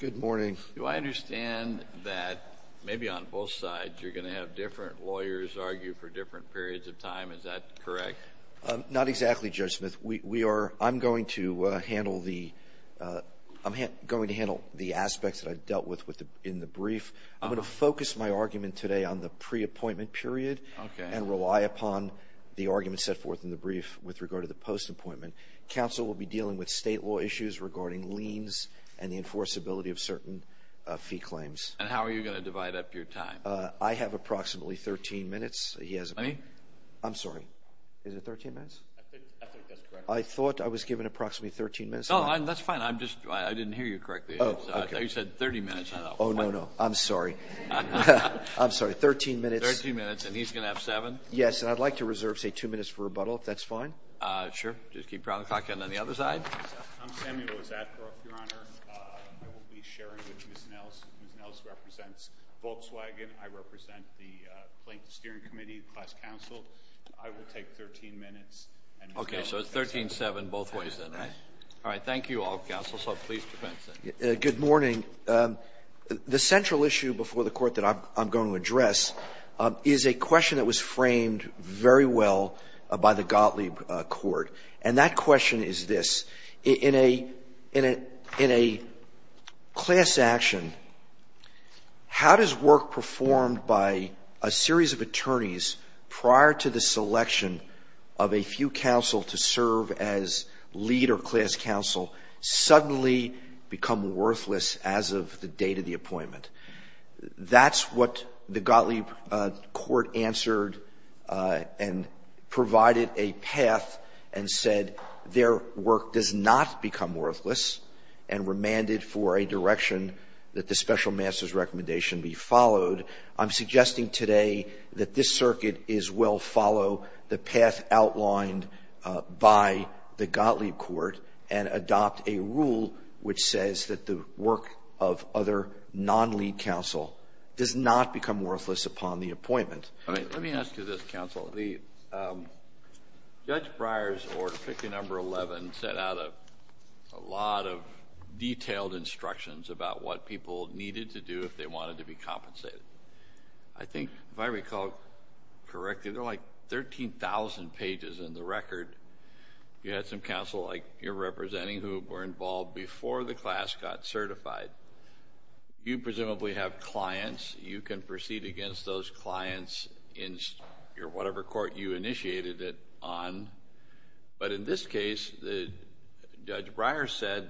Do I understand that, maybe on both sides, you're going to have different lawyers argue for different periods of time? Is that correct? Not exactly, Judge Smith. I'm going to handle the aspects that I've dealt with in the brief. I'm going to focus my argument today on the pre-appointment period and rely upon the argument set forth in the brief with regard to the post-appointment. Counsel will be dealing with state law issues regarding liens and the enforceability of certain fee claims. And how are you going to divide up your time? I have approximately 13 minutes. Let me… I'm sorry. Is it 13 minutes? I think that's correct. I thought I was given approximately 13 minutes. No, that's fine. I didn't hear you correctly. Oh, okay. You said 30 minutes. Oh, no, no. I'm sorry. I'm sorry. 13 minutes. 13 minutes, and he's going to have seven? Yes, and I'd like to reserve, say, two minutes for rebuttal, if that's fine. Sure. Just keep the clock going on the other side. I'm Samuel Zadbrook, Your Honor. I will be sharing with Ms. Nells. Ms. Nells represents Volkswagen. I represent the Plaintiff's Steering Committee, the class counsel. I will take 13 minutes, and Ms. Nells… Okay. So it's 13-7 both ways, then, right? Right. All right. Thank you all, counsel. So please defend yourself. Good morning. The central issue before the Court that I'm going to address is a question that was framed very well by the Gottlieb Court. And that question is this. In a class action, how does work performed by a series of attorneys prior to the selection of a few counsel to serve as lead or class counsel suddenly become worthless as of the date of the appointment? That's what the Gottlieb Court answered and provided a path and said their work does not become worthless and remanded for a direction that the special master's recommendation be followed. I'm suggesting today that this circuit is well follow the path outlined by the Gottlieb Court and adopt a rule which says that the work of other non-lead counsel does not become worthless upon the appointment. Let me ask you this, counsel. The Judge Breyer's Order 5011 set out a lot of detailed instructions about what people needed to do if they wanted to be compensated. I think, if I recall correctly, there are like 13,000 pages in the record. You had some counsel like you're representing who were involved before the class got certified. You presumably have clients. You can proceed against those clients in your whatever court you initiated it on. But in this case, Judge Breyer said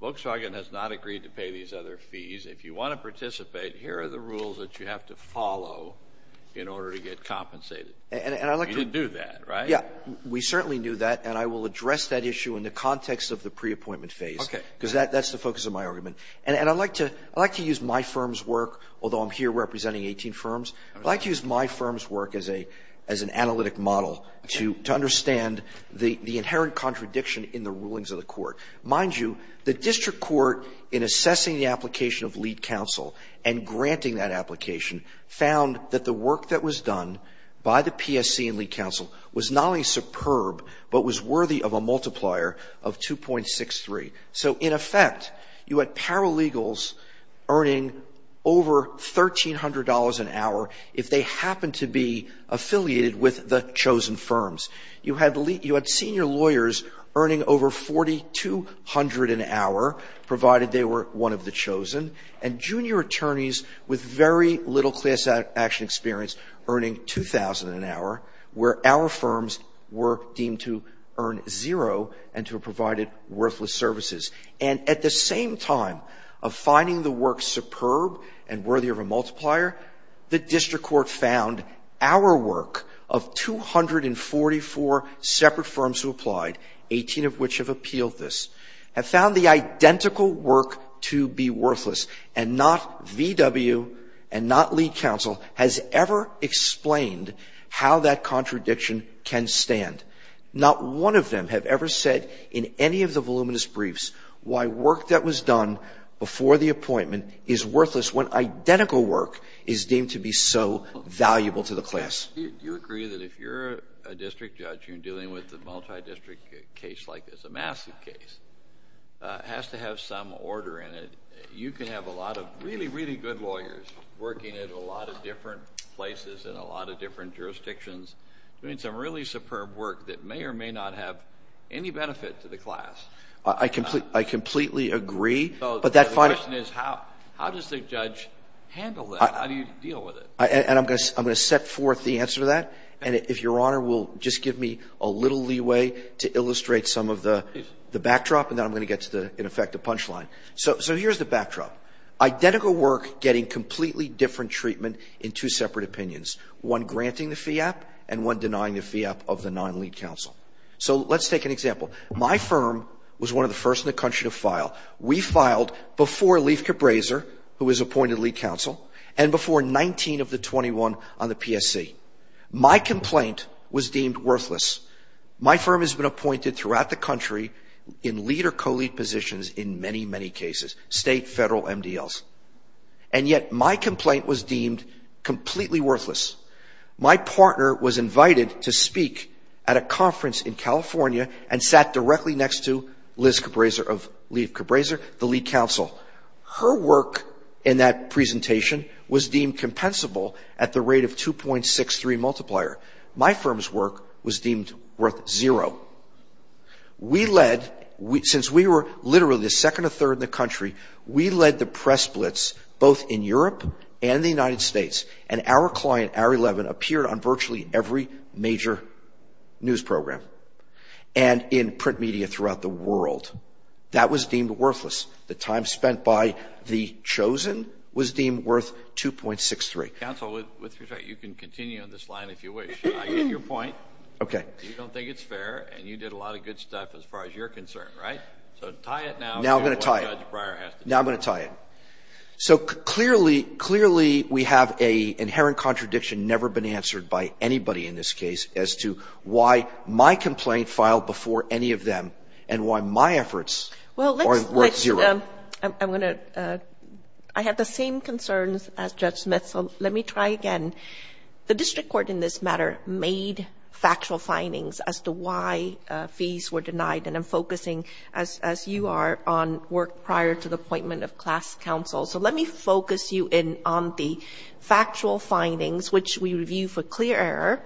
Volkswagen has not agreed to pay these other fees. If you want to participate, here are the rules that you have to follow in order to get compensated. You didn't do that, right? Yeah. We certainly knew that, and I will address that issue in the context of the preappointment phase. Okay. Because that's the focus of my argument. And I'd like to use my firm's work, although I'm here representing 18 firms, I'd like to use my firm's work as an analytic model to understand the inherent contradiction in the rulings of the court. Mind you, the district court, in assessing the application of lead counsel and granting that application, found that the work that was done by the PSC and lead counsel was not only superb, but was worthy of a multiplier of 2.63. So, in effect, you had paralegals earning over $1,300 an hour if they happened to be affiliated with the chosen firms. You had senior lawyers earning over $4,200 an hour, provided they were one of the chosen, and junior attorneys with very little class action experience earning $2,000 an hour, where our firms were deemed to earn zero and to have provided worthless services. And at the same time of finding the work superb and worthy of a multiplier, the district court found our work of 244 separate firms who applied, 18 of which have appealed this, have found the identical work to be worthless. And not VW and not lead counsel has ever explained how that contradiction can stand. Not one of them have ever said in any of the voluminous briefs why work that was done before the appointment is worthless when identical work is deemed to be so valuable to the class. Kennedy, do you agree that if you're a district judge and you're dealing with a multidistrict case like this, a massive case, has to have some order in it, you can have a lot of really, really good lawyers working at a lot of different places in a lot of different jurisdictions doing some really superb work that may or may not have any benefit to the class? I completely agree. So the question is how does the judge handle that? How do you deal with it? And I'm going to set forth the answer to that. And if Your Honor will just give me a little leeway to illustrate some of the backdrop and then I'm going to get to, in effect, the punchline. So here's the backdrop. Identical work getting completely different treatment in two separate opinions, one granting the FIAP and one denying the FIAP of the non-lead counsel. So let's take an example. My firm was one of the first in the country to file. We filed before Leif Cabraser, who was appointed lead counsel, and before 19 of the 21 on the PSC. My complaint was deemed worthless. My firm has been appointed throughout the country in lead or co-lead positions in many, many cases, state, federal, MDLs. And yet my complaint was deemed completely worthless. My partner was invited to speak at a conference in California and sat directly next to Leif Cabraser, the lead counsel. Her work in that presentation was deemed compensable at the rate of 2.63 multiplier. My firm's work was deemed worth zero. We led, since we were literally the second or third in the country, we led the press blitz both in Europe and the United States. And our client, Hour 11, appeared on virtually every major news program and in print media throughout the world. That was deemed worthless. The time spent by the chosen was deemed worth 2.63. Kennedy. Counsel, with respect, you can continue on this line if you wish. I get your point. Okay. You don't think it's fair, and you did a lot of good stuff as far as you're concerned, right? So tie it now to what Judge Breyer has to say. Now I'm going to tie it. Now I'm going to tie it. So clearly, clearly we have an inherent contradiction never been answered by anybody in this case as to why my complaint filed before any of them and why my efforts are worth zero. Well, let's see. I'm going to – I have the same concerns as Judge Smith, so let me try again. The district court in this matter made factual findings as to why fees were denied, and I'm focusing, as you are, on work prior to the appointment of class counsel. So let me focus you in on the factual findings, which we review for clear error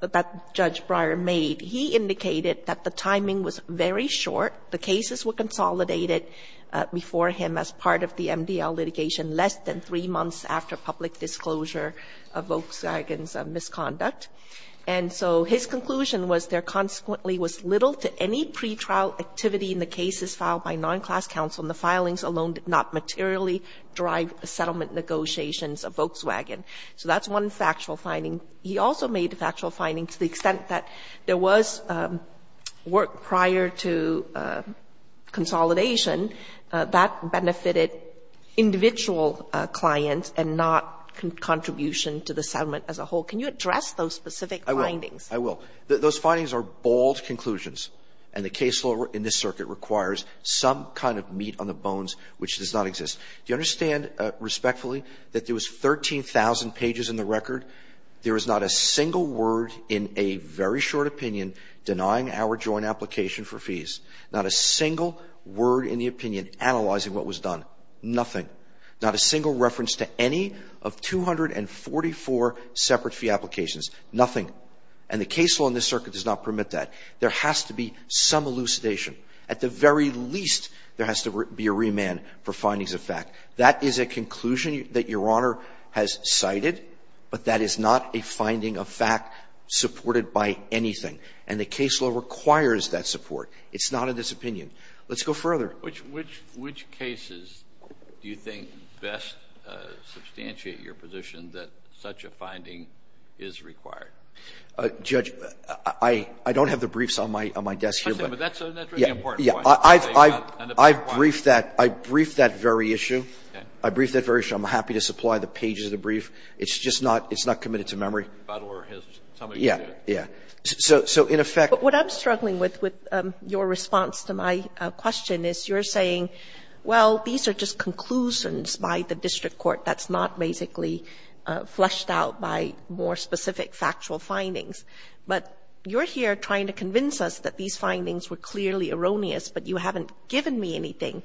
that Judge Breyer made. He indicated that the timing was very short. The cases were consolidated before him as part of the MDL litigation less than three months after public disclosure of Volkswagen's misconduct. And so his conclusion was there consequently was little to any pretrial activity in the cases filed by non-class counsel, and the filings alone did not materially drive settlement negotiations of Volkswagen. So that's one factual finding. He also made a factual finding to the extent that there was work prior to consolidation that benefited individual clients and not contribution to the settlement as a whole. Can you address those specific findings? I will. Those findings are bold conclusions, and the case law in this circuit requires some kind of meat on the bones which does not exist. Do you understand respectfully that there was 13,000 pages in the record? There is not a single word in a very short opinion denying our joint application for fees. Not a single word in the opinion analyzing what was done. Nothing. Not a single reference to any of 244 separate fee applications. Nothing. And the case law in this circuit does not permit that. There has to be some elucidation. At the very least, there has to be a remand for findings of fact. That is a conclusion that Your Honor has cited, but that is not a finding of fact supported by anything. And the case law requires that support. It's not in this opinion. Let's go further. Kennedy, which cases do you think best substantiate your position that such a finding is required? Judge, I don't have the briefs on my desk here. That's a really important point. I've briefed that. I briefed that very issue. I briefed that very issue. I'm happy to supply the pages of the brief. It's just not committed to memory. Yeah. Yeah. So in effect. But what I'm struggling with, with your response to my question, is you're saying, well, these are just conclusions by the district court that's not basically fleshed out by more specific factual findings. But you're here trying to convince us that these findings were clearly erroneous, but you haven't given me anything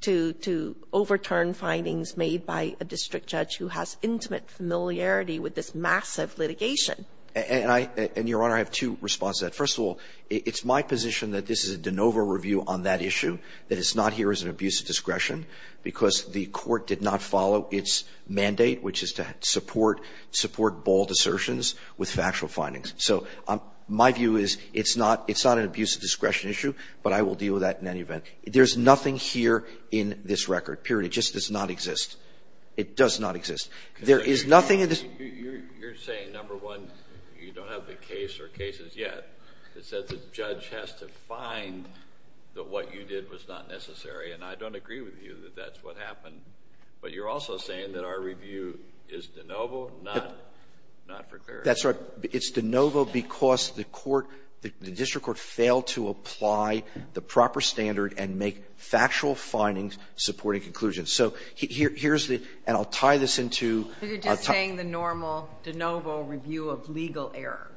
to overturn findings made by a district judge who has intimate familiarity with this massive litigation. And I — and, Your Honor, I have two responses to that. First of all, it's my position that this is a de novo review on that issue, that it's not here as an abuse of discretion, because the court did not follow its mandate, which is to support — support bald assertions with factual findings. So my view is it's not — it's not an abuse of discretion issue, but I will deal with that in any event. There's nothing here in this record, period. It just does not exist. It does not exist. There is nothing in this — You're saying, number one, you don't have the case or cases yet. It says the judge has to find that what you did was not necessary. And I don't agree with you that that's what happened. But you're also saying that our review is de novo, not for clarity. That's right. It's de novo because the court — the district court failed to apply the proper standard and make factual findings supporting conclusions. So here's the — and I'll tie this into — But you're just saying the normal de novo review of legal error.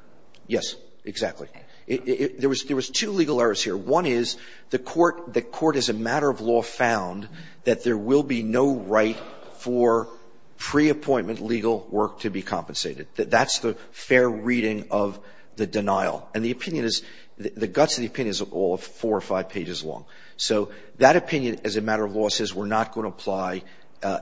Yes, exactly. There was two legal errors here. One is the court — the court, as a matter of law, found that there will be no right for pre-appointment legal work to be compensated. That's the fair reading of the denial. And the opinion is — the guts of the opinion is all four or five pages long. So that opinion, as a matter of law, says we're not going to apply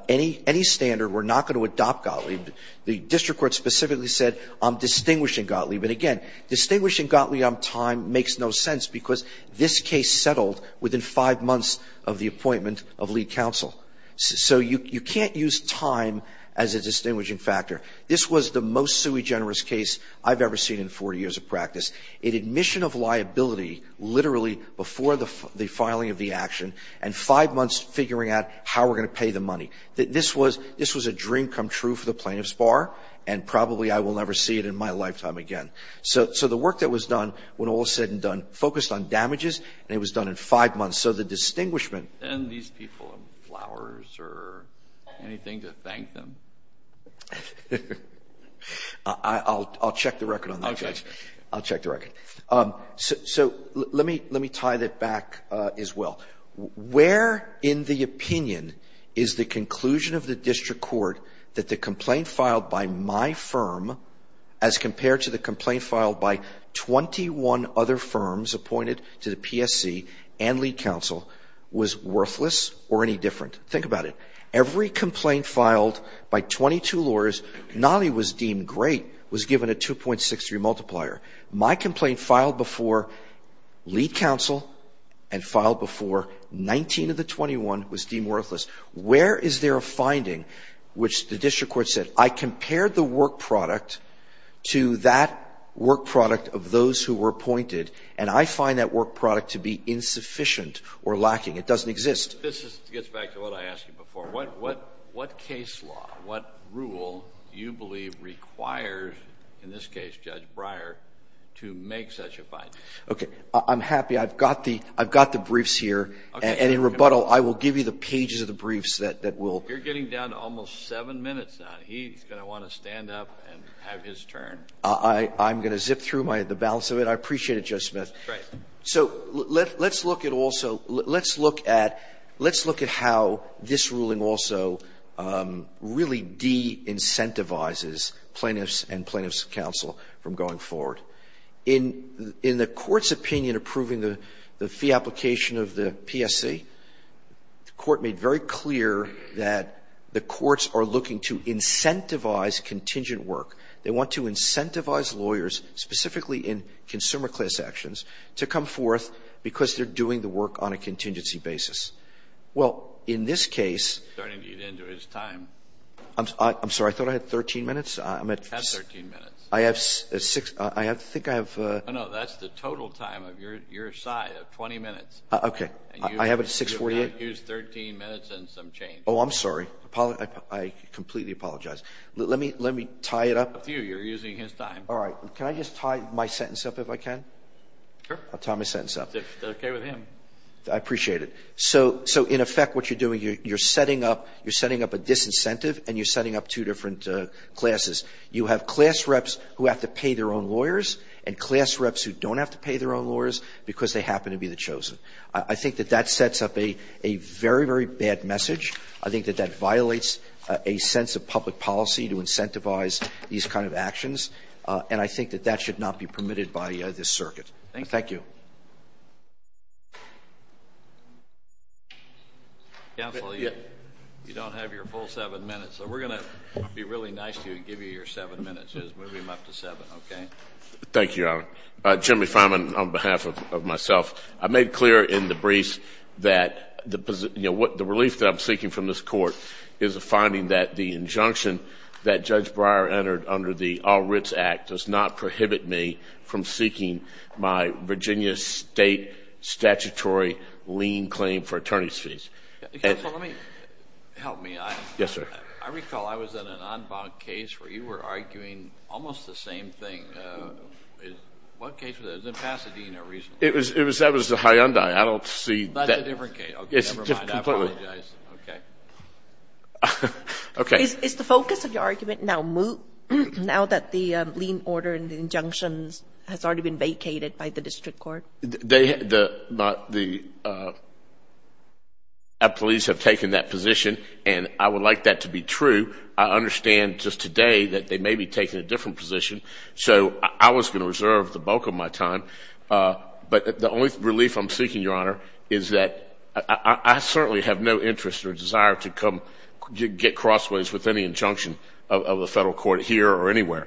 any — any standard. We're not going to adopt Gottlieb. The district court specifically said, I'm distinguishing Gottlieb. And, again, distinguishing Gottlieb time makes no sense because this case settled within five months of the appointment of lead counsel. So you can't use time as a distinguishing factor. This was the most sui generis case I've ever seen in 40 years of practice. An admission of liability literally before the filing of the action and five months figuring out how we're going to pay the money. This was — this was a dream come true for the plaintiff's bar, and probably I will never see it in my lifetime again. So the work that was done went all said and done, focused on damages, and it was done in five months. So the distinguishment — And these people have flowers or anything to thank them? I'll check the record on that, Judge. I'll check the record. So let me tie that back as well. Where in the opinion is the conclusion of the district court that the complaint filed by my firm as compared to the complaint filed by 21 other firms appointed to the PSC and lead counsel was worthless or any different? Think about it. Every complaint filed by 22 lawyers, not only was deemed great, was given a 2.63 multiplier. My complaint filed before lead counsel and filed before 19 of the 21 was deemed worthless. Where is there a finding which the district court said, I compared the work product to that work product of those who were appointed, and I find that work product to be insufficient or lacking? It doesn't exist. This gets back to what I asked you before. What case law, what rule do you believe requires, in this case, Judge Breyer, to make such a finding? Okay. I'm happy. I've got the briefs here. Okay. And in rebuttal, I will give you the pages of the briefs that will. You're getting down to almost seven minutes now. He's going to want to stand up and have his turn. I'm going to zip through the balance of it. I appreciate it, Judge Smith. Great. So let's look at also, let's look at, let's look at how this ruling also really de-incentivizes plaintiffs and plaintiffs counsel from going forward. In the court's opinion approving the fee application of the PSC, the court made very clear that the courts are looking to incentivize contingent work. They want to incentivize lawyers, specifically in consumer class actions, to come forth because they're doing the work on a contingency basis. Well, in this case ---- He's starting to get into his time. I'm sorry. I thought I had 13 minutes. I'm at 6. You have 13 minutes. I have 6. I think I have ---- No, no. That's the total time of your side of 20 minutes. Okay. I have a 6.48. You used 13 minutes and some change. Oh, I'm sorry. I completely apologize. Let me tie it up. It's up to you. You're using his time. All right. Can I just tie my sentence up if I can? Sure. I'll tie my sentence up. That's okay with him. I appreciate it. So in effect what you're doing, you're setting up, you're setting up a disincentive and you're setting up two different classes. You have class reps who have to pay their own lawyers and class reps who don't have to pay their own lawyers because they happen to be the chosen. I think that that sets up a very, very bad message. I think that that violates a sense of public policy to incentivize these kind of actions. And I think that that should not be permitted by this circuit. Thank you. Counsel, you don't have your full 7 minutes, so we're going to be really nice to you your 7 minutes is. Move him up to 7. Thank you, Your Honor. Jimmy Fineman on behalf of myself. I made clear in the briefs that the relief that I'm seeking from this court is a finding that the injunction that Judge Breyer entered under the All Writs Act does not prohibit me from seeking my Virginia State statutory lien claim for attorney's fees. Counsel, let me. Help me. Yes, sir. I recall I was in an en banc case where you were arguing almost the same thing. What case was that? It was in Pasadena recently. That was the Hyundai. I don't see that. That's a different case. Never mind. I apologize. Okay. Okay. Is the focus of your argument now that the lien order and the injunctions has already been vacated by the district court? The police have taken that position, and I would like that to be true. I understand just today that they may be taking a different position, so I was going to reserve the bulk of my time. But the only relief I'm seeking, Your Honor, is that I certainly have no interest or desire to come get crossways with any injunction of the federal court here or anywhere.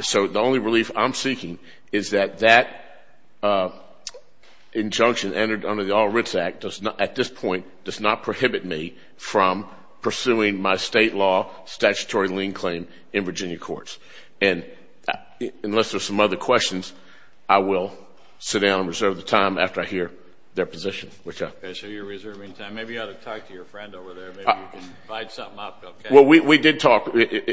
So the only relief I'm seeking is that that injunction entered under the All Writs Act at this point does not prohibit me from pursuing my state law statutory lien claim in Virginia courts. And unless there are some other questions, I will sit down and reserve the time after I hear their position. Okay. So you're reserving time. Maybe you ought to talk to your friend over there. Maybe you can divide something up. Well, we did talk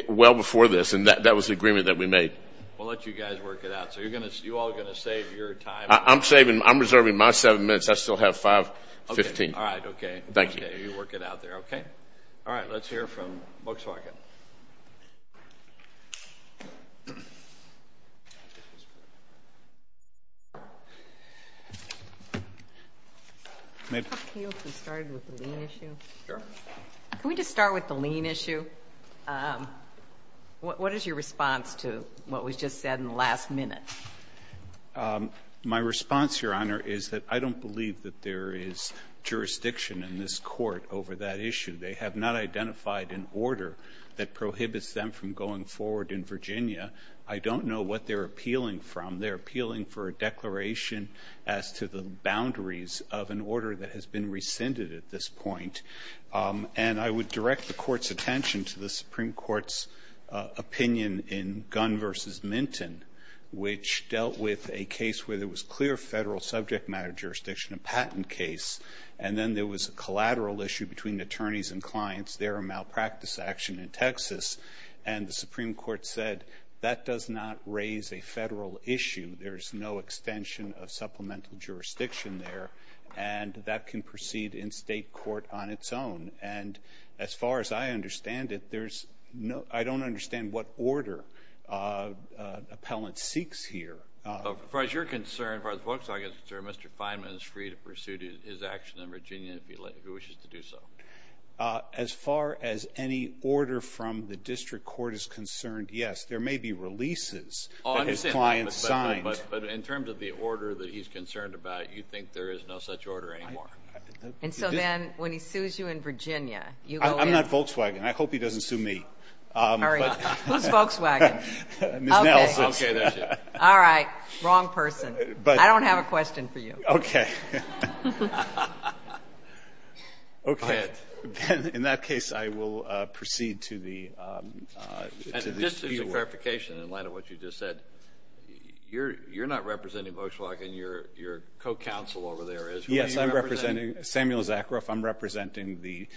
well before this, and that was the agreement that we made. We'll let you guys work it out. So you all are going to save your time. I'm saving. I'm reserving my seven minutes. I still have 5.15. All right. Okay. Thank you. Okay. You work it out there. Okay. All right. Let's hear from Volkswagen. Can we just start with the lien issue? Sure. Can we just start with the lien issue? What is your response to what was just said in the last minute? My response, Your Honor, is that I don't believe that there is jurisdiction in this Court over that issue. They have not identified an order that prohibits them from going forward in Virginia. I don't know what they're appealing from. They're appealing for a declaration as to the boundaries of an order that has been rescinded at this point. And I would direct the Court's attention to the Supreme Court's opinion in Gunn v. Minton, which dealt with a case where there was clear federal subject matter jurisdiction, a patent case, and then there was a collateral issue between attorneys and clients. There are malpractice action in Texas. And the Supreme Court said that does not raise a federal issue. There is no extension of supplemental jurisdiction there, and that can proceed in state court on its own. And as far as I understand it, I don't understand what order appellant seeks here. As far as you're concerned, as far as Volkswagen is concerned, Mr. Fineman is free to pursue his action in Virginia if he wishes to do so. As far as any order from the district court is concerned, yes. There may be releases that his clients signed. But in terms of the order that he's concerned about, you think there is no such order anymore? And so then when he sues you in Virginia, you go in. I'm not Volkswagen. I hope he doesn't sue me. Who's Volkswagen? Ms. Nelson. Okay, there she is. All right. Wrong person. I don't have a question for you. Okay. In that case, I will proceed to the speed of work. Just for clarification in light of what you just said, you're not representing Volkswagen. Your co-counsel over there is. Yes, I'm representing Samuel Zakaroff. I'm representing the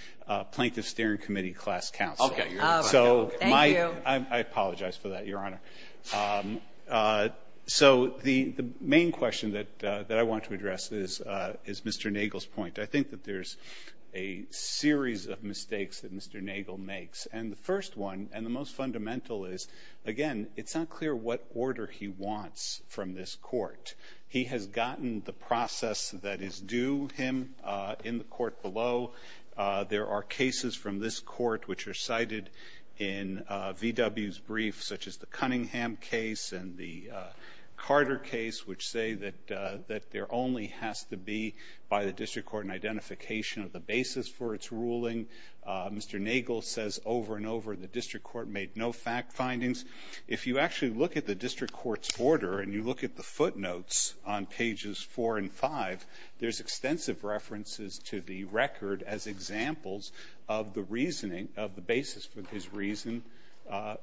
Plaintiff Steering Committee class counsel. Thank you. I apologize for that, Your Honor. So the main question that I want to address is Mr. Nagel's point. I think that there's a series of mistakes that Mr. Nagel makes. And the first one, and the most fundamental, is, again, it's not clear what order he wants from this court. He has gotten the process that is due him in the court below. There are cases from this court which are cited in VW's brief, such as the Cunningham case and the Carter case, which say that there only has to be, by the district court, an identification of the basis for its ruling. Mr. Nagel says over and over the district court made no fact findings. If you actually look at the district court's order and you look at the footnotes on pages four and five, there's extensive references to the record as examples of the reasoning, of the basis for his reason,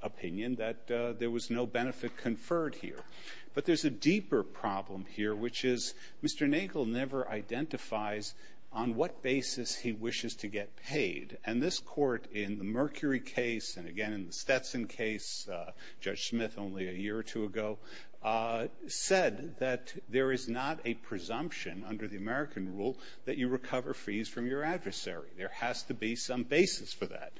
opinion, that there was no benefit conferred here. But there's a deeper problem here, which is Mr. Nagel never identifies on what basis he wishes to get paid. And this court in the Mercury case and, again, in the Stetson case, Judge Smith only a year or two ago, said that there is not a presumption under the American rule that you recover fees from your adversary. There has to be some basis for that.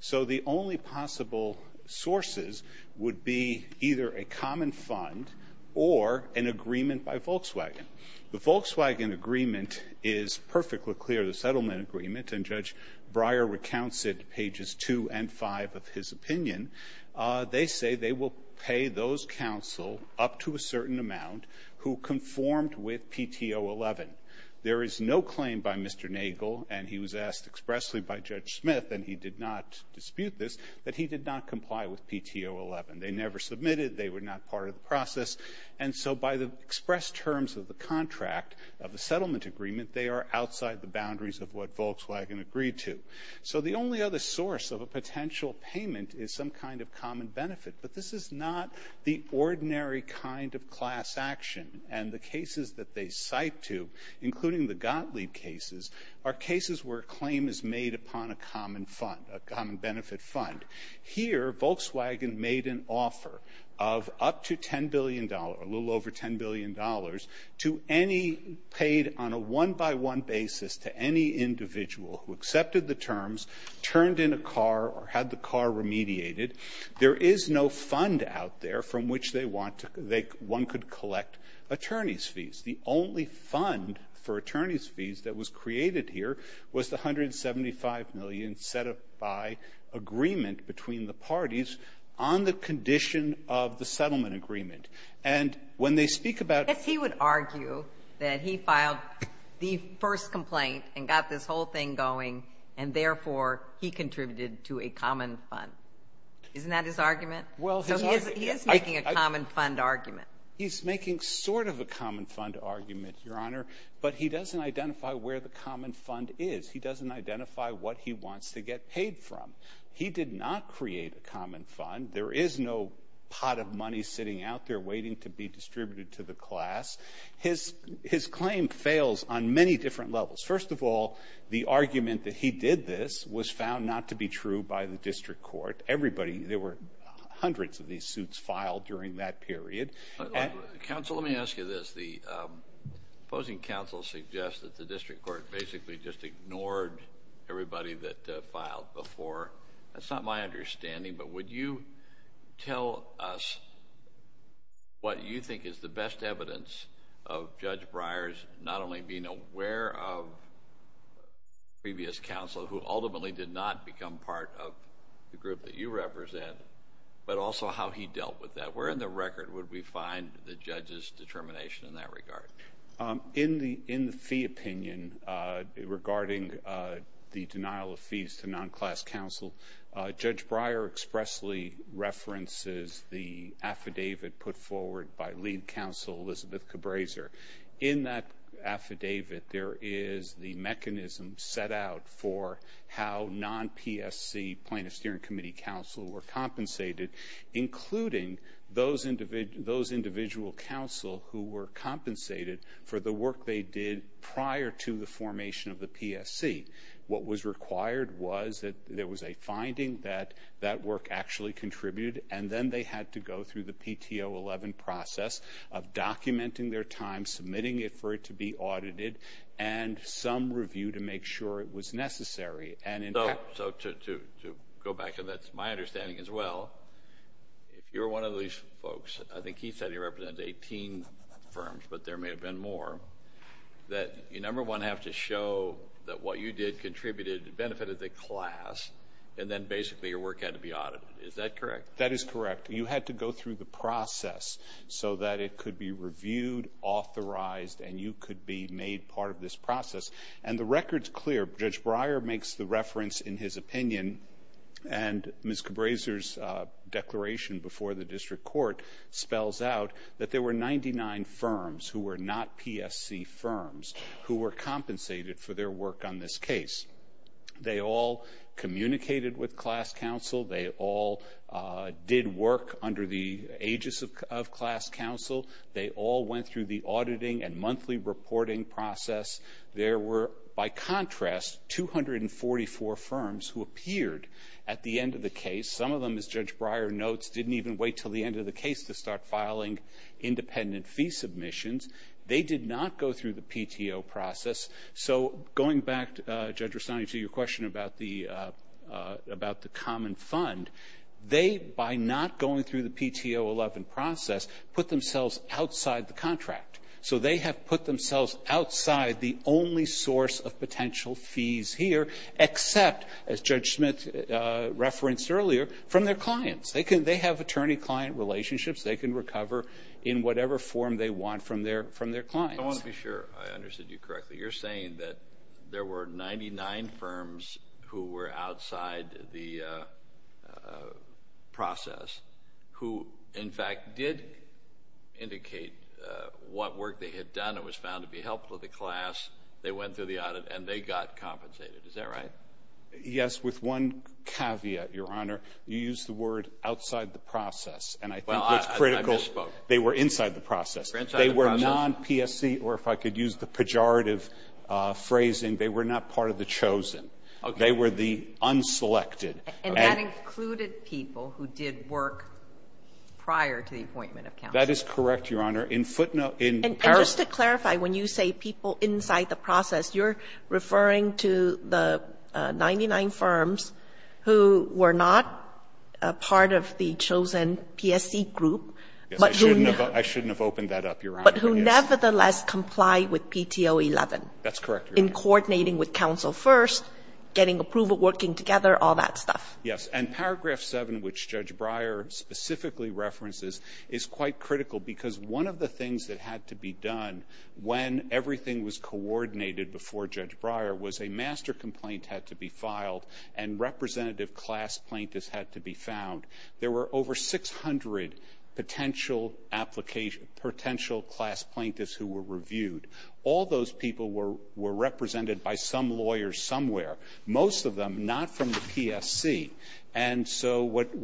So the only possible sources would be either a common fund or an agreement by Volkswagen. The Volkswagen agreement is perfectly clear, the settlement agreement, and Judge Breyer recounts it to pages two and five of his opinion. They say they will pay those counsel up to a certain amount who conformed with PTO 11. There is no claim by Mr. Nagel, and he was asked expressly by Judge Smith, and he did not dispute this, that he did not comply with PTO 11. They never submitted. They were not part of the process. And so by the express terms of the contract of the settlement agreement, they are outside the boundaries of what Volkswagen agreed to. So the only other source of a potential payment is some kind of common benefit. But this is not the ordinary kind of class action. And the cases that they cite to, including the Gottlieb cases, are cases where a claim is made upon a common fund, a common benefit fund. Here, Volkswagen made an offer of up to $10 billion, a little over $10 billion, to any paid on a one-by-one basis to any individual who accepted the terms, turned in a car, or had the car remediated. There is no fund out there from which they want to go. One could collect attorney's fees. The only fund for attorney's fees that was created here was the $175 million set up by agreement between the parties on the condition of the settlement agreement. And when they speak about Ginsburg. If he would argue that he filed the first complaint and got this whole thing going and, therefore, he contributed to a common fund, isn't that his argument? So he is making a common fund argument. He's making sort of a common fund argument, Your Honor, but he doesn't identify where the common fund is. He doesn't identify what he wants to get paid from. He did not create a common fund. There is no pot of money sitting out there waiting to be distributed to the class. His claim fails on many different levels. First of all, the argument that he did this was found not to be true by the district court. Everybody, there were hundreds of these suits filed during that period. Counsel, let me ask you this. The opposing counsel suggests that the district court basically just ignored everybody that filed before. That's not my understanding, but would you tell us what you think is the best evidence of Judge Breyer's not only being aware of previous counsel, who ultimately did not become part of the group that you represent, but also how he dealt with that. Where in the record would we find the judge's determination in that regard? In the fee opinion regarding the denial of fees to non-class counsel, Judge Breyer expressly references the affidavit put forward by lead counsel, Elizabeth Cabraser. In that affidavit there is the mechanism set out for how non-PSC plaintiff hearing committee counsel were compensated, including those individual counsel who were compensated for the work they did prior to the formation of the PSC. What was required was that there was a finding that that work actually contributed, and then they had to go through the PTO 11 process of documenting their time, submitting it for it to be audited, and some review to make sure it was necessary. So to go back, and that's my understanding as well, if you're one of these folks, I think he said he represented 18 firms, but there may have been more, that you, number one, have to show that what you did contributed, benefited the class, and then basically your work had to be audited. Is that correct? That is correct. You had to go through the process so that it could be reviewed, authorized, and you could be made part of this process. And the record's clear. Judge Breyer makes the reference in his opinion, and Ms. Cabraser's declaration before the district court spells out that there were 99 firms who were not PSC firms who were compensated for their work on this case. They all communicated with class counsel. They all did work under the aegis of class counsel. They all went through the auditing and monthly reporting process. There were, by contrast, 244 firms who appeared at the end of the case. Some of them, as Judge Breyer notes, didn't even wait until the end of the case to start filing independent fee submissions. They did not go through the PTO process. So going back, Judge Rustani, to your question about the common fund, they, by not going through the PTO 11 process, put themselves outside the contract. So they have put themselves outside the only source of potential fees here except, as Judge Smith referenced earlier, from their clients. They have attorney-client relationships. They can recover in whatever form they want from their clients. I want to be sure I understood you correctly. You're saying that there were 99 firms who were outside the process who, in fact, did indicate what work they had done. It was found to be helpful to the class. They went through the audit, and they got compensated. Is that right? Yes, with one caveat, Your Honor. You used the word outside the process, and I think that's critical. They were inside the process. They were non-PSC, or if I could use the pejorative phrasing, they were not part of the chosen. They were the unselected. And that included people who did work prior to the appointment of counsel. That is correct, Your Honor. In footnote, in paragraph. And just to clarify, when you say people inside the process, you're referring to the 99 firms who were not part of the chosen PSC group, but who nevertheless complied with PTO 11. That's correct, Your Honor. In coordinating with counsel first, getting approval, working together, all that stuff. Yes. And paragraph 7, which Judge Breyer specifically references, is quite critical because one of the things that had to be done when everything was coordinated before Judge Breyer was a master complaint had to be filed and representative class plaintiffs had to be found. There were over 600 potential class plaintiffs who were reviewed. All those people were represented by some lawyers somewhere. Most of them not from the PSC. And so what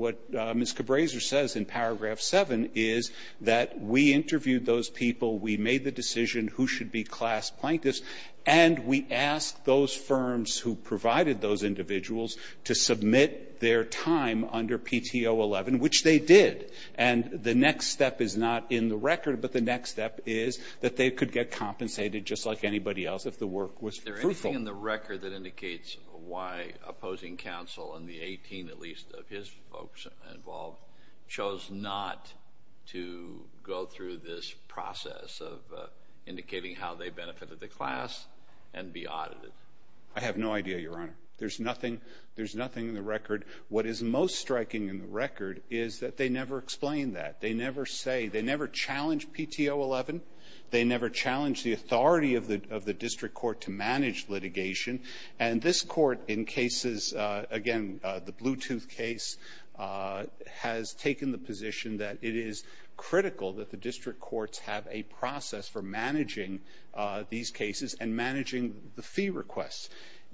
Ms. Cabraser says in paragraph 7 is that we interviewed those people, we made the decision who should be class plaintiffs, and we asked those firms who provided those individuals to submit their time under PTO 11, which they did. And the next step is not in the record, but the next step is that they could get compensated just like anybody else if the work was fruitful. Is there anything in the record that indicates why opposing counsel and the 18, at least, of his folks involved chose not to go through this process of indicating how they benefited the class and be audited? I have no idea, Your Honor. There's nothing in the record. What is most striking in the record is that they never explain that. They never say. They never challenge PTO 11. They never challenge the authority of the district court to manage litigation. And this court, in cases, again, the Bluetooth case, has taken the position that it is critical that the district courts have a process for managing these cases and managing the fee requests.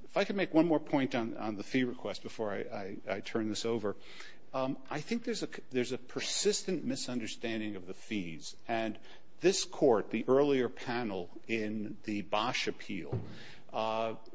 If I could make one more point on the fee request before I turn this over, I think there's a persistent misunderstanding of the fees. And this court, the earlier panel in the Bosch appeal,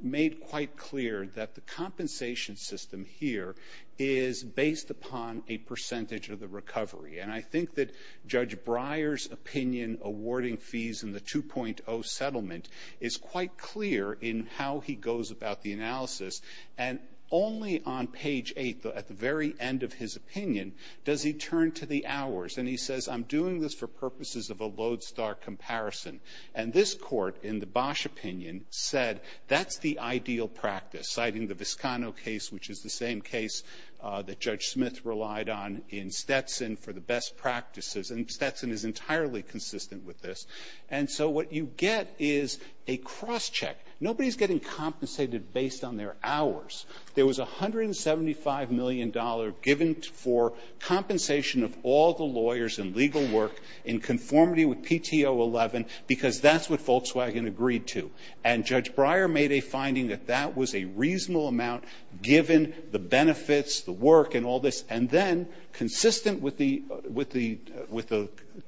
made quite clear that the compensation system here is based upon a percentage of the recovery. And I think that Judge Breyer's opinion awarding fees in the 2.0 settlement is quite clear in how he goes about the analysis. And only on page 8, at the very end of his opinion, does he turn to the hours. And he says, I'm doing this for purposes of a lodestar comparison. And this court, in the Bosch opinion, said, that's the ideal practice, citing the Viscano case, which is the same case that Judge Smith relied on in Stetson for the best practices. And Stetson is entirely consistent with this. And so what you get is a cross-check. Nobody is getting compensated based on their hours. There was $175 million given for compensation of all the lawyers and legal work in conformity with PTO 11 because that's what Volkswagen agreed to. And Judge Breyer made a finding that that was a reasonable amount given the benefits, the work and all this. And then, consistent with the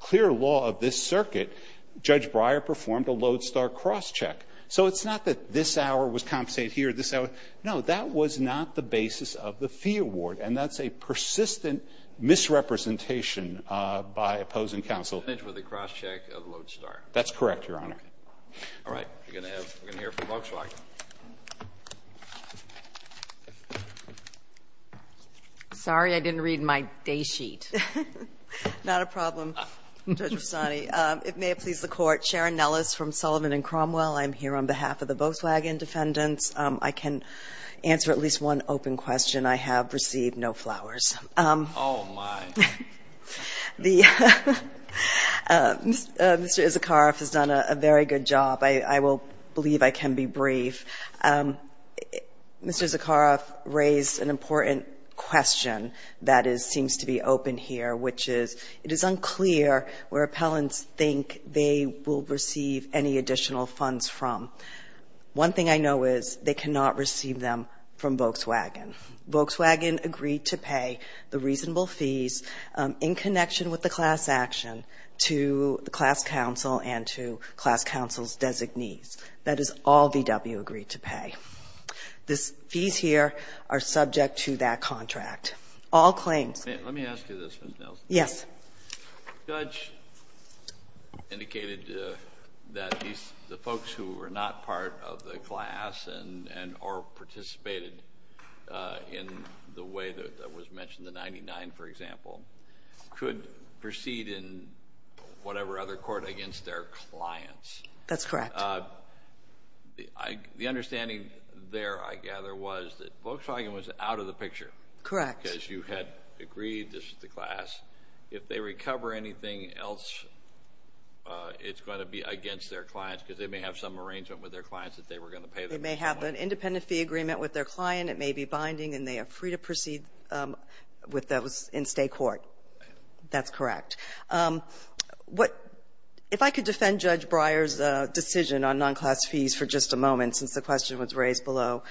clear law of this circuit, Judge Breyer performed a lodestar cross-check. So it's not that this hour was compensated here, this hour. No, that was not the basis of the fee award. And that's a persistent misrepresentation by opposing counsel. Kennedy with a cross-check of lodestar. That's correct, Your Honor. All right. We're going to have to hear from Volkswagen. Sorry, I didn't read my day sheet. Not a problem, Judge Rosani. It may have pleased the Court. Sharon Nellis from Sullivan and Cromwell. I'm here on behalf of the Volkswagen defendants. I can answer at least one open question. I have received no flowers. Oh, my. Mr. Issacharoff has done a very good job. I will believe I can be brief. Mr. Issacharoff raised an important question that seems to be open here, which is it is unclear where appellants think they will receive any additional funds from. One thing I know is they cannot receive them from Volkswagen. Volkswagen agreed to pay the reasonable fees in connection with the class action to the class counsel and to class counsel's designees. That is all VW agreed to pay. These fees here are subject to that contract. Let me ask you this, Ms. Nellis. Yes. The judge indicated that the folks who were not part of the class or participated in the way that was mentioned, the 99, for example, could proceed in whatever other court against their clients. That's correct. The understanding there, I gather, was that Volkswagen was out of the picture. Correct. Because you had agreed this was the class. If they recover anything else, it's going to be against their clients because they may have some arrangement with their clients that they were going to pay them. They may have an independent fee agreement with their client. It may be binding, and they are free to proceed with those in state court. That's correct. If I could defend Judge Breyer's decision on non-class fees for just a moment since the question was raised below.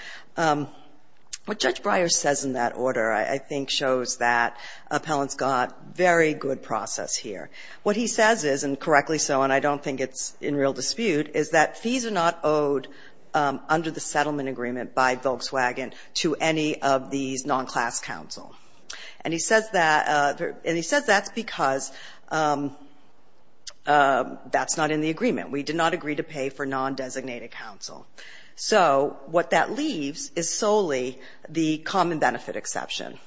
What Judge Breyer says in that order, I think, shows that appellants got very good process here. What he says is, and correctly so, and I don't think it's in real dispute, is that fees are not owed under the settlement agreement by Volkswagen to any of these non-class counsel. And he says that's because that's not in the agreement. We did not agree to pay for non-designated counsel. So what that leaves is solely the common benefit exception.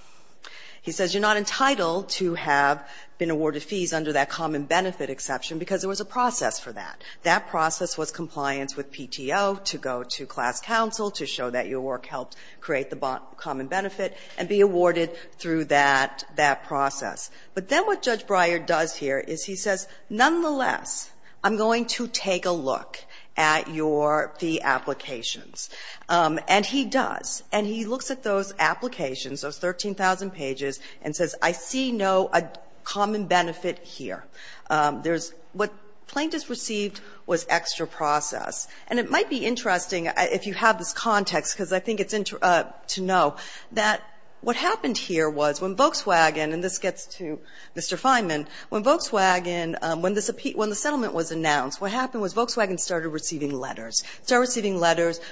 He says you're not entitled to have been awarded fees under that common benefit exception because there was a process for that. That process was compliance with PTO to go to class counsel to show that your work helped create the common benefit and be awarded through that process. Nonetheless, I'm going to take a look at your fee applications. And he does. And he looks at those applications, those 13,000 pages, and says I see no common benefit here. There's what plaintiffs received was extra process. And it might be interesting, if you have this context, because I think it's interesting to know, that what happened here was when Volkswagen, and this gets to Mr. Fineman, when Volkswagen, when the settlement was announced, what happened was Volkswagen started receiving letters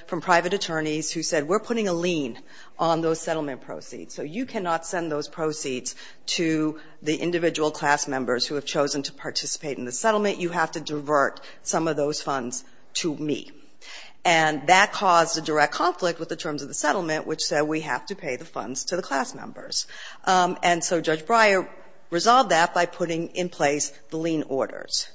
from private attorneys who said we're putting a lien on those settlement proceeds. So you cannot send those proceeds to the individual class members who have chosen to participate in the settlement. You have to divert some of those funds to me. And that caused a direct conflict with the terms of the settlement, which said we have to pay the funds to the class members. And so Judge Breyer resolved that by putting in place the lien orders.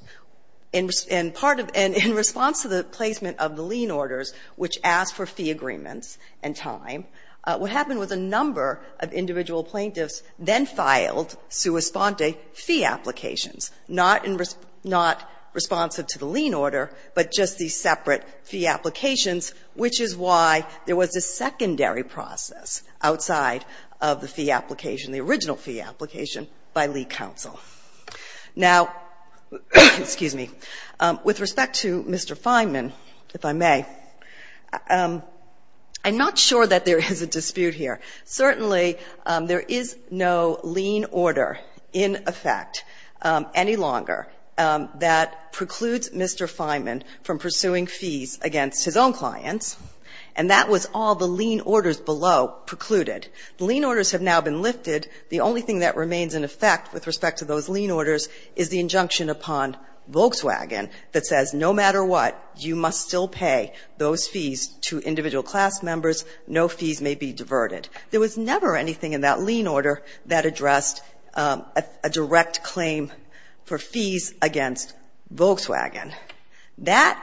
In part of the ‑‑ and in response to the placement of the lien orders, which asked for fee agreements and time, what happened was a number of individual plaintiffs then filed sua sponte fee applications, not in ‑‑ not responsive to the lien order, but just these separate fee applications, which is why there was a secondary process outside of the fee application, the original fee application by lie counsel. Now, excuse me. With respect to Mr. Fineman, if I may, I'm not sure that there is a dispute here. Certainly there is no lien order in effect any longer that precludes Mr. Fineman from pursuing fees against his own clients, and that was all the lien orders below precluded. The lien orders have now been lifted. The only thing that remains in effect with respect to those lien orders is the injunction upon Volkswagen that says no matter what, you must still pay those fees to individual class members, no fees may be diverted. There was never anything in that lien order that addressed a direct claim for fees against Volkswagen. That,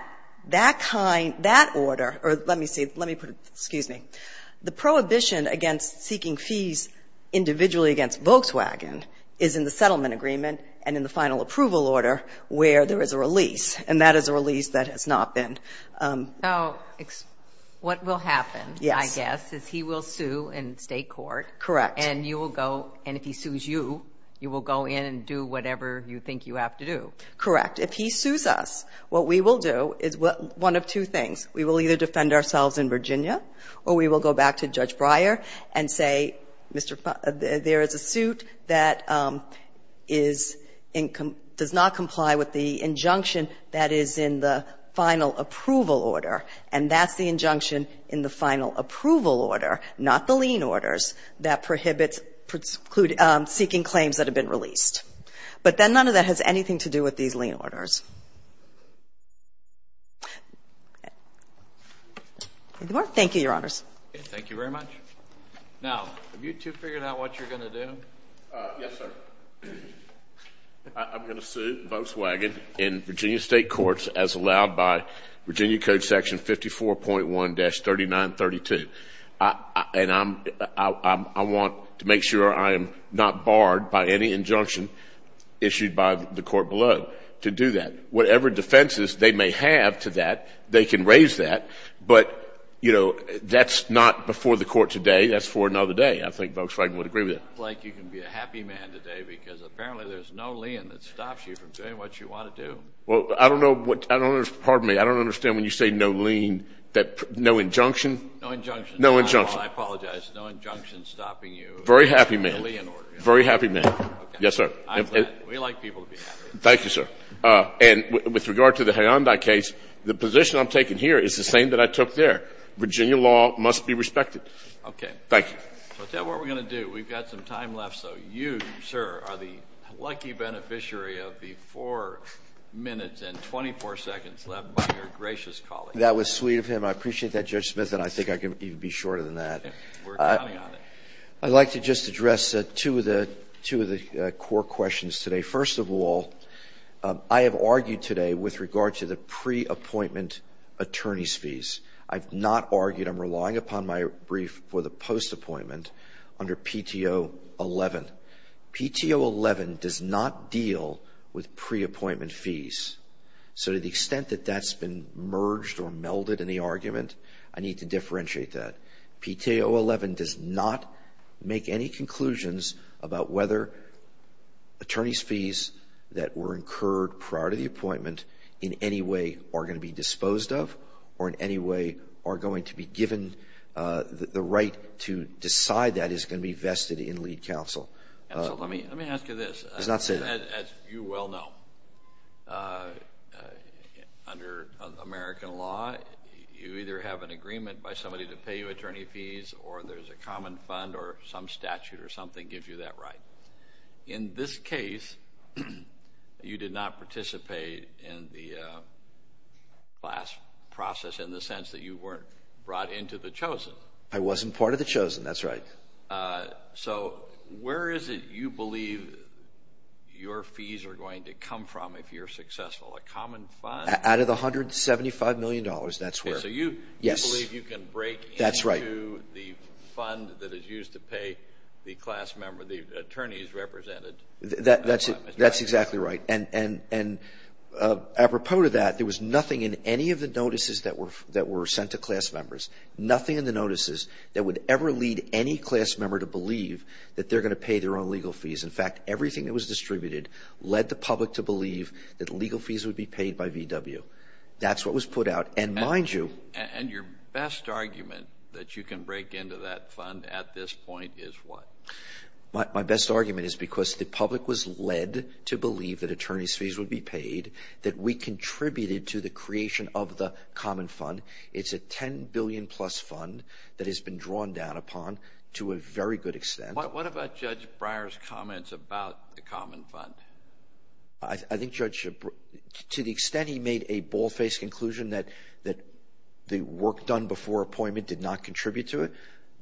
that kind, that order, or let me see, let me put it, excuse me, the prohibition against seeking fees individually against Volkswagen is in the settlement agreement and in the final approval order where there is a release, and that is a release that has not been ‑‑ Now, what will happen, I guess, is he will sue in State court. Correct. And you will go, and if he sues you, you will go in and do whatever you think you have to do. Correct. If he sues us, what we will do is one of two things. We will either defend ourselves in Virginia or we will go back to Judge Breyer and say, Mr. ‑‑ there is a suit that is ‑‑ does not comply with the injunction that is in the final approval order, and that's the injunction in the final approval order, not the lien orders, that prohibits seeking claims that have been released. But then none of that has anything to do with these lien orders. Thank you, Your Honors. Thank you very much. Now, have you two figured out what you are going to do? Yes, sir. I'm going to sue Volkswagen in Virginia State courts as allowed by Virginia Code Section 54.1-3932. And I'm ‑‑ I want to make sure I am not barred by any injunction issued by the court below to do that. Whatever defenses they may have to that, they can raise that. But, you know, that's not before the court today. That's for another day. I think Volkswagen would agree with that. It looks like you can be a happy man today because apparently there is no lien that stops you from doing what you want to do. Well, I don't know what ‑‑ pardon me. I don't understand when you say no lien, no injunction. No injunction. No injunction. I apologize. No injunction stopping you. Very happy man. Very happy man. Okay. Yes, sir. We like people to be happy. Thank you, sir. And with regard to the Hyundai case, the position I'm taking here is the same that I took there. Virginia law must be respected. Okay. Thank you. So is that what we're going to do? We've got some time left. So you, sir, are the lucky beneficiary of the four minutes and 24 seconds left by your gracious colleague. That was sweet of him. I appreciate that, Judge Smith, and I think I can even be shorter than that. We're counting on it. I'd like to just address two of the core questions today. First of all, I have argued today with regard to the pre-appointment attorney's fees. I've not argued. I'm relying upon my brief for the post-appointment under PTO 11. PTO 11 does not deal with pre-appointment fees. So to the extent that that's been merged or melded in the argument, I need to differentiate that. PTO 11 does not make any conclusions about whether attorney's fees that were incurred prior to the appointment in any way are going to be disposed of or in any way are going to be given. The right to decide that is going to be vested in lead counsel. Counsel, let me ask you this. Just not say that. As you well know, under American law, you either have an agreement by somebody to pay you attorney fees or there's a common fund or some statute or something gives you that right. In this case, you did not participate in the class process in the sense that you weren't brought into the chosen. I wasn't part of the chosen. That's right. So where is it you believe your fees are going to come from if you're successful? A common fund? Out of the $175 million, that's where. So you believe you can break into the fund that is used to pay the class member, the attorneys represented? That's exactly right. And apropos to that, there was nothing in any of the notices that were sent to class members, nothing in the notices that would ever lead any class member to believe that they're going to pay their own legal fees. In fact, everything that was distributed led the public to believe that legal fees would be paid by VW. That's what was put out. And your best argument that you can break into that fund at this point is what? My best argument is because the public was led to believe that attorneys' fees would be paid, that we contributed to the creation of the common fund. It's a $10 billion-plus fund that has been drawn down upon to a very good extent. What about Judge Breyer's comments about the common fund? I think, Judge, to the extent he made a ball-faced conclusion that the work done before appointment did not contribute to it,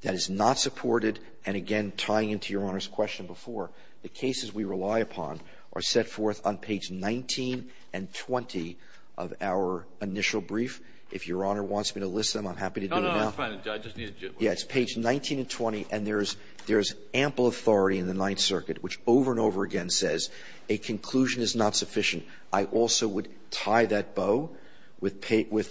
that is not supported, and again, tying into Your Honor's question before, the cases we rely upon are set forth on page 19 and 20 of our initial brief. If Your Honor wants me to list them, I'm happy to do it now. No, no, it's fine. I just needed to get one. Yes, page 19 and 20. And there is ample authority in the Ninth Circuit, which over and over again says a conclusion is not sufficient. I also would tie that bow with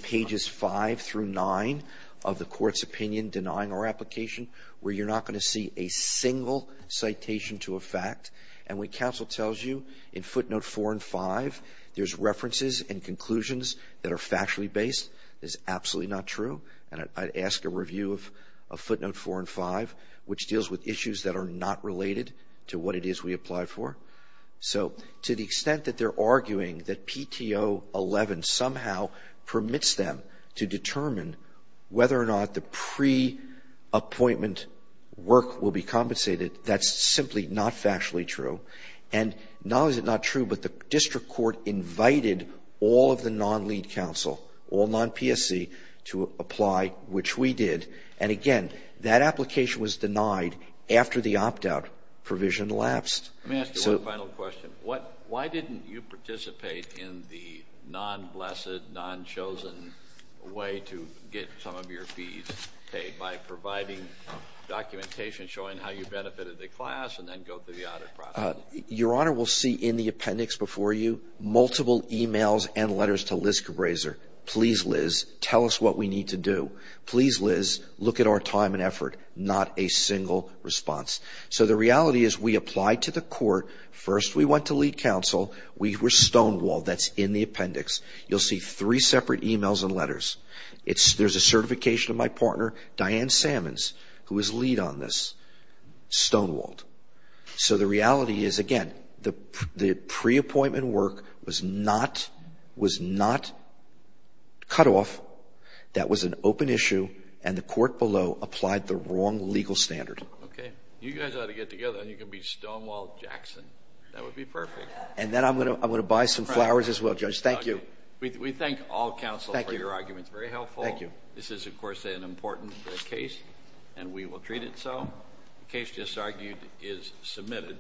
pages 5 through 9 of the Court's opinion denying our application where you're not going to see a single citation to a fact. And what counsel tells you in footnote 4 and 5, there's references and conclusions that are factually based. That's absolutely not true. And I'd ask a review of footnote 4 and 5, which deals with issues that are not related to what it is we apply for. So to the extent that they're arguing that PTO 11 somehow permits them to determine whether or not the pre-appointment work will be compensated, that's simply not factually true. And not only is it not true, but the district court invited all of the non-lead counsel, all non-PSC, to apply, which we did. And again, that application was denied after the opt-out provision elapsed. Let me ask you one final question. Why didn't you participate in the non-blessed, non-chosen way to get some of your fees paid by providing documentation showing how you benefited the class and then go through the audit process? Your Honor, we'll see in the appendix before you multiple e-mails and letters to Liska Brazer, please, Liz, tell us what we need to do. Please, Liz, look at our time and effort. Not a single response. So the reality is we applied to the court. First, we went to lead counsel. We were stonewalled. That's in the appendix. You'll see three separate e-mails and letters. There's a certification of my partner, Diane Sammons, who was lead on this. Stonewalled. So the reality is, again, the pre-appointment work was not cut off. That was an open issue, and the court below applied the wrong legal standard. Okay. You guys ought to get together and you can be Stonewalled Jackson. That would be perfect. And then I'm going to buy some flowers as well, Judge. Thank you. We thank all counsel for your arguments. Thank you. Very helpful. Thank you. This is, of course, an important case, and we will treat it so. The case just argued is submitted.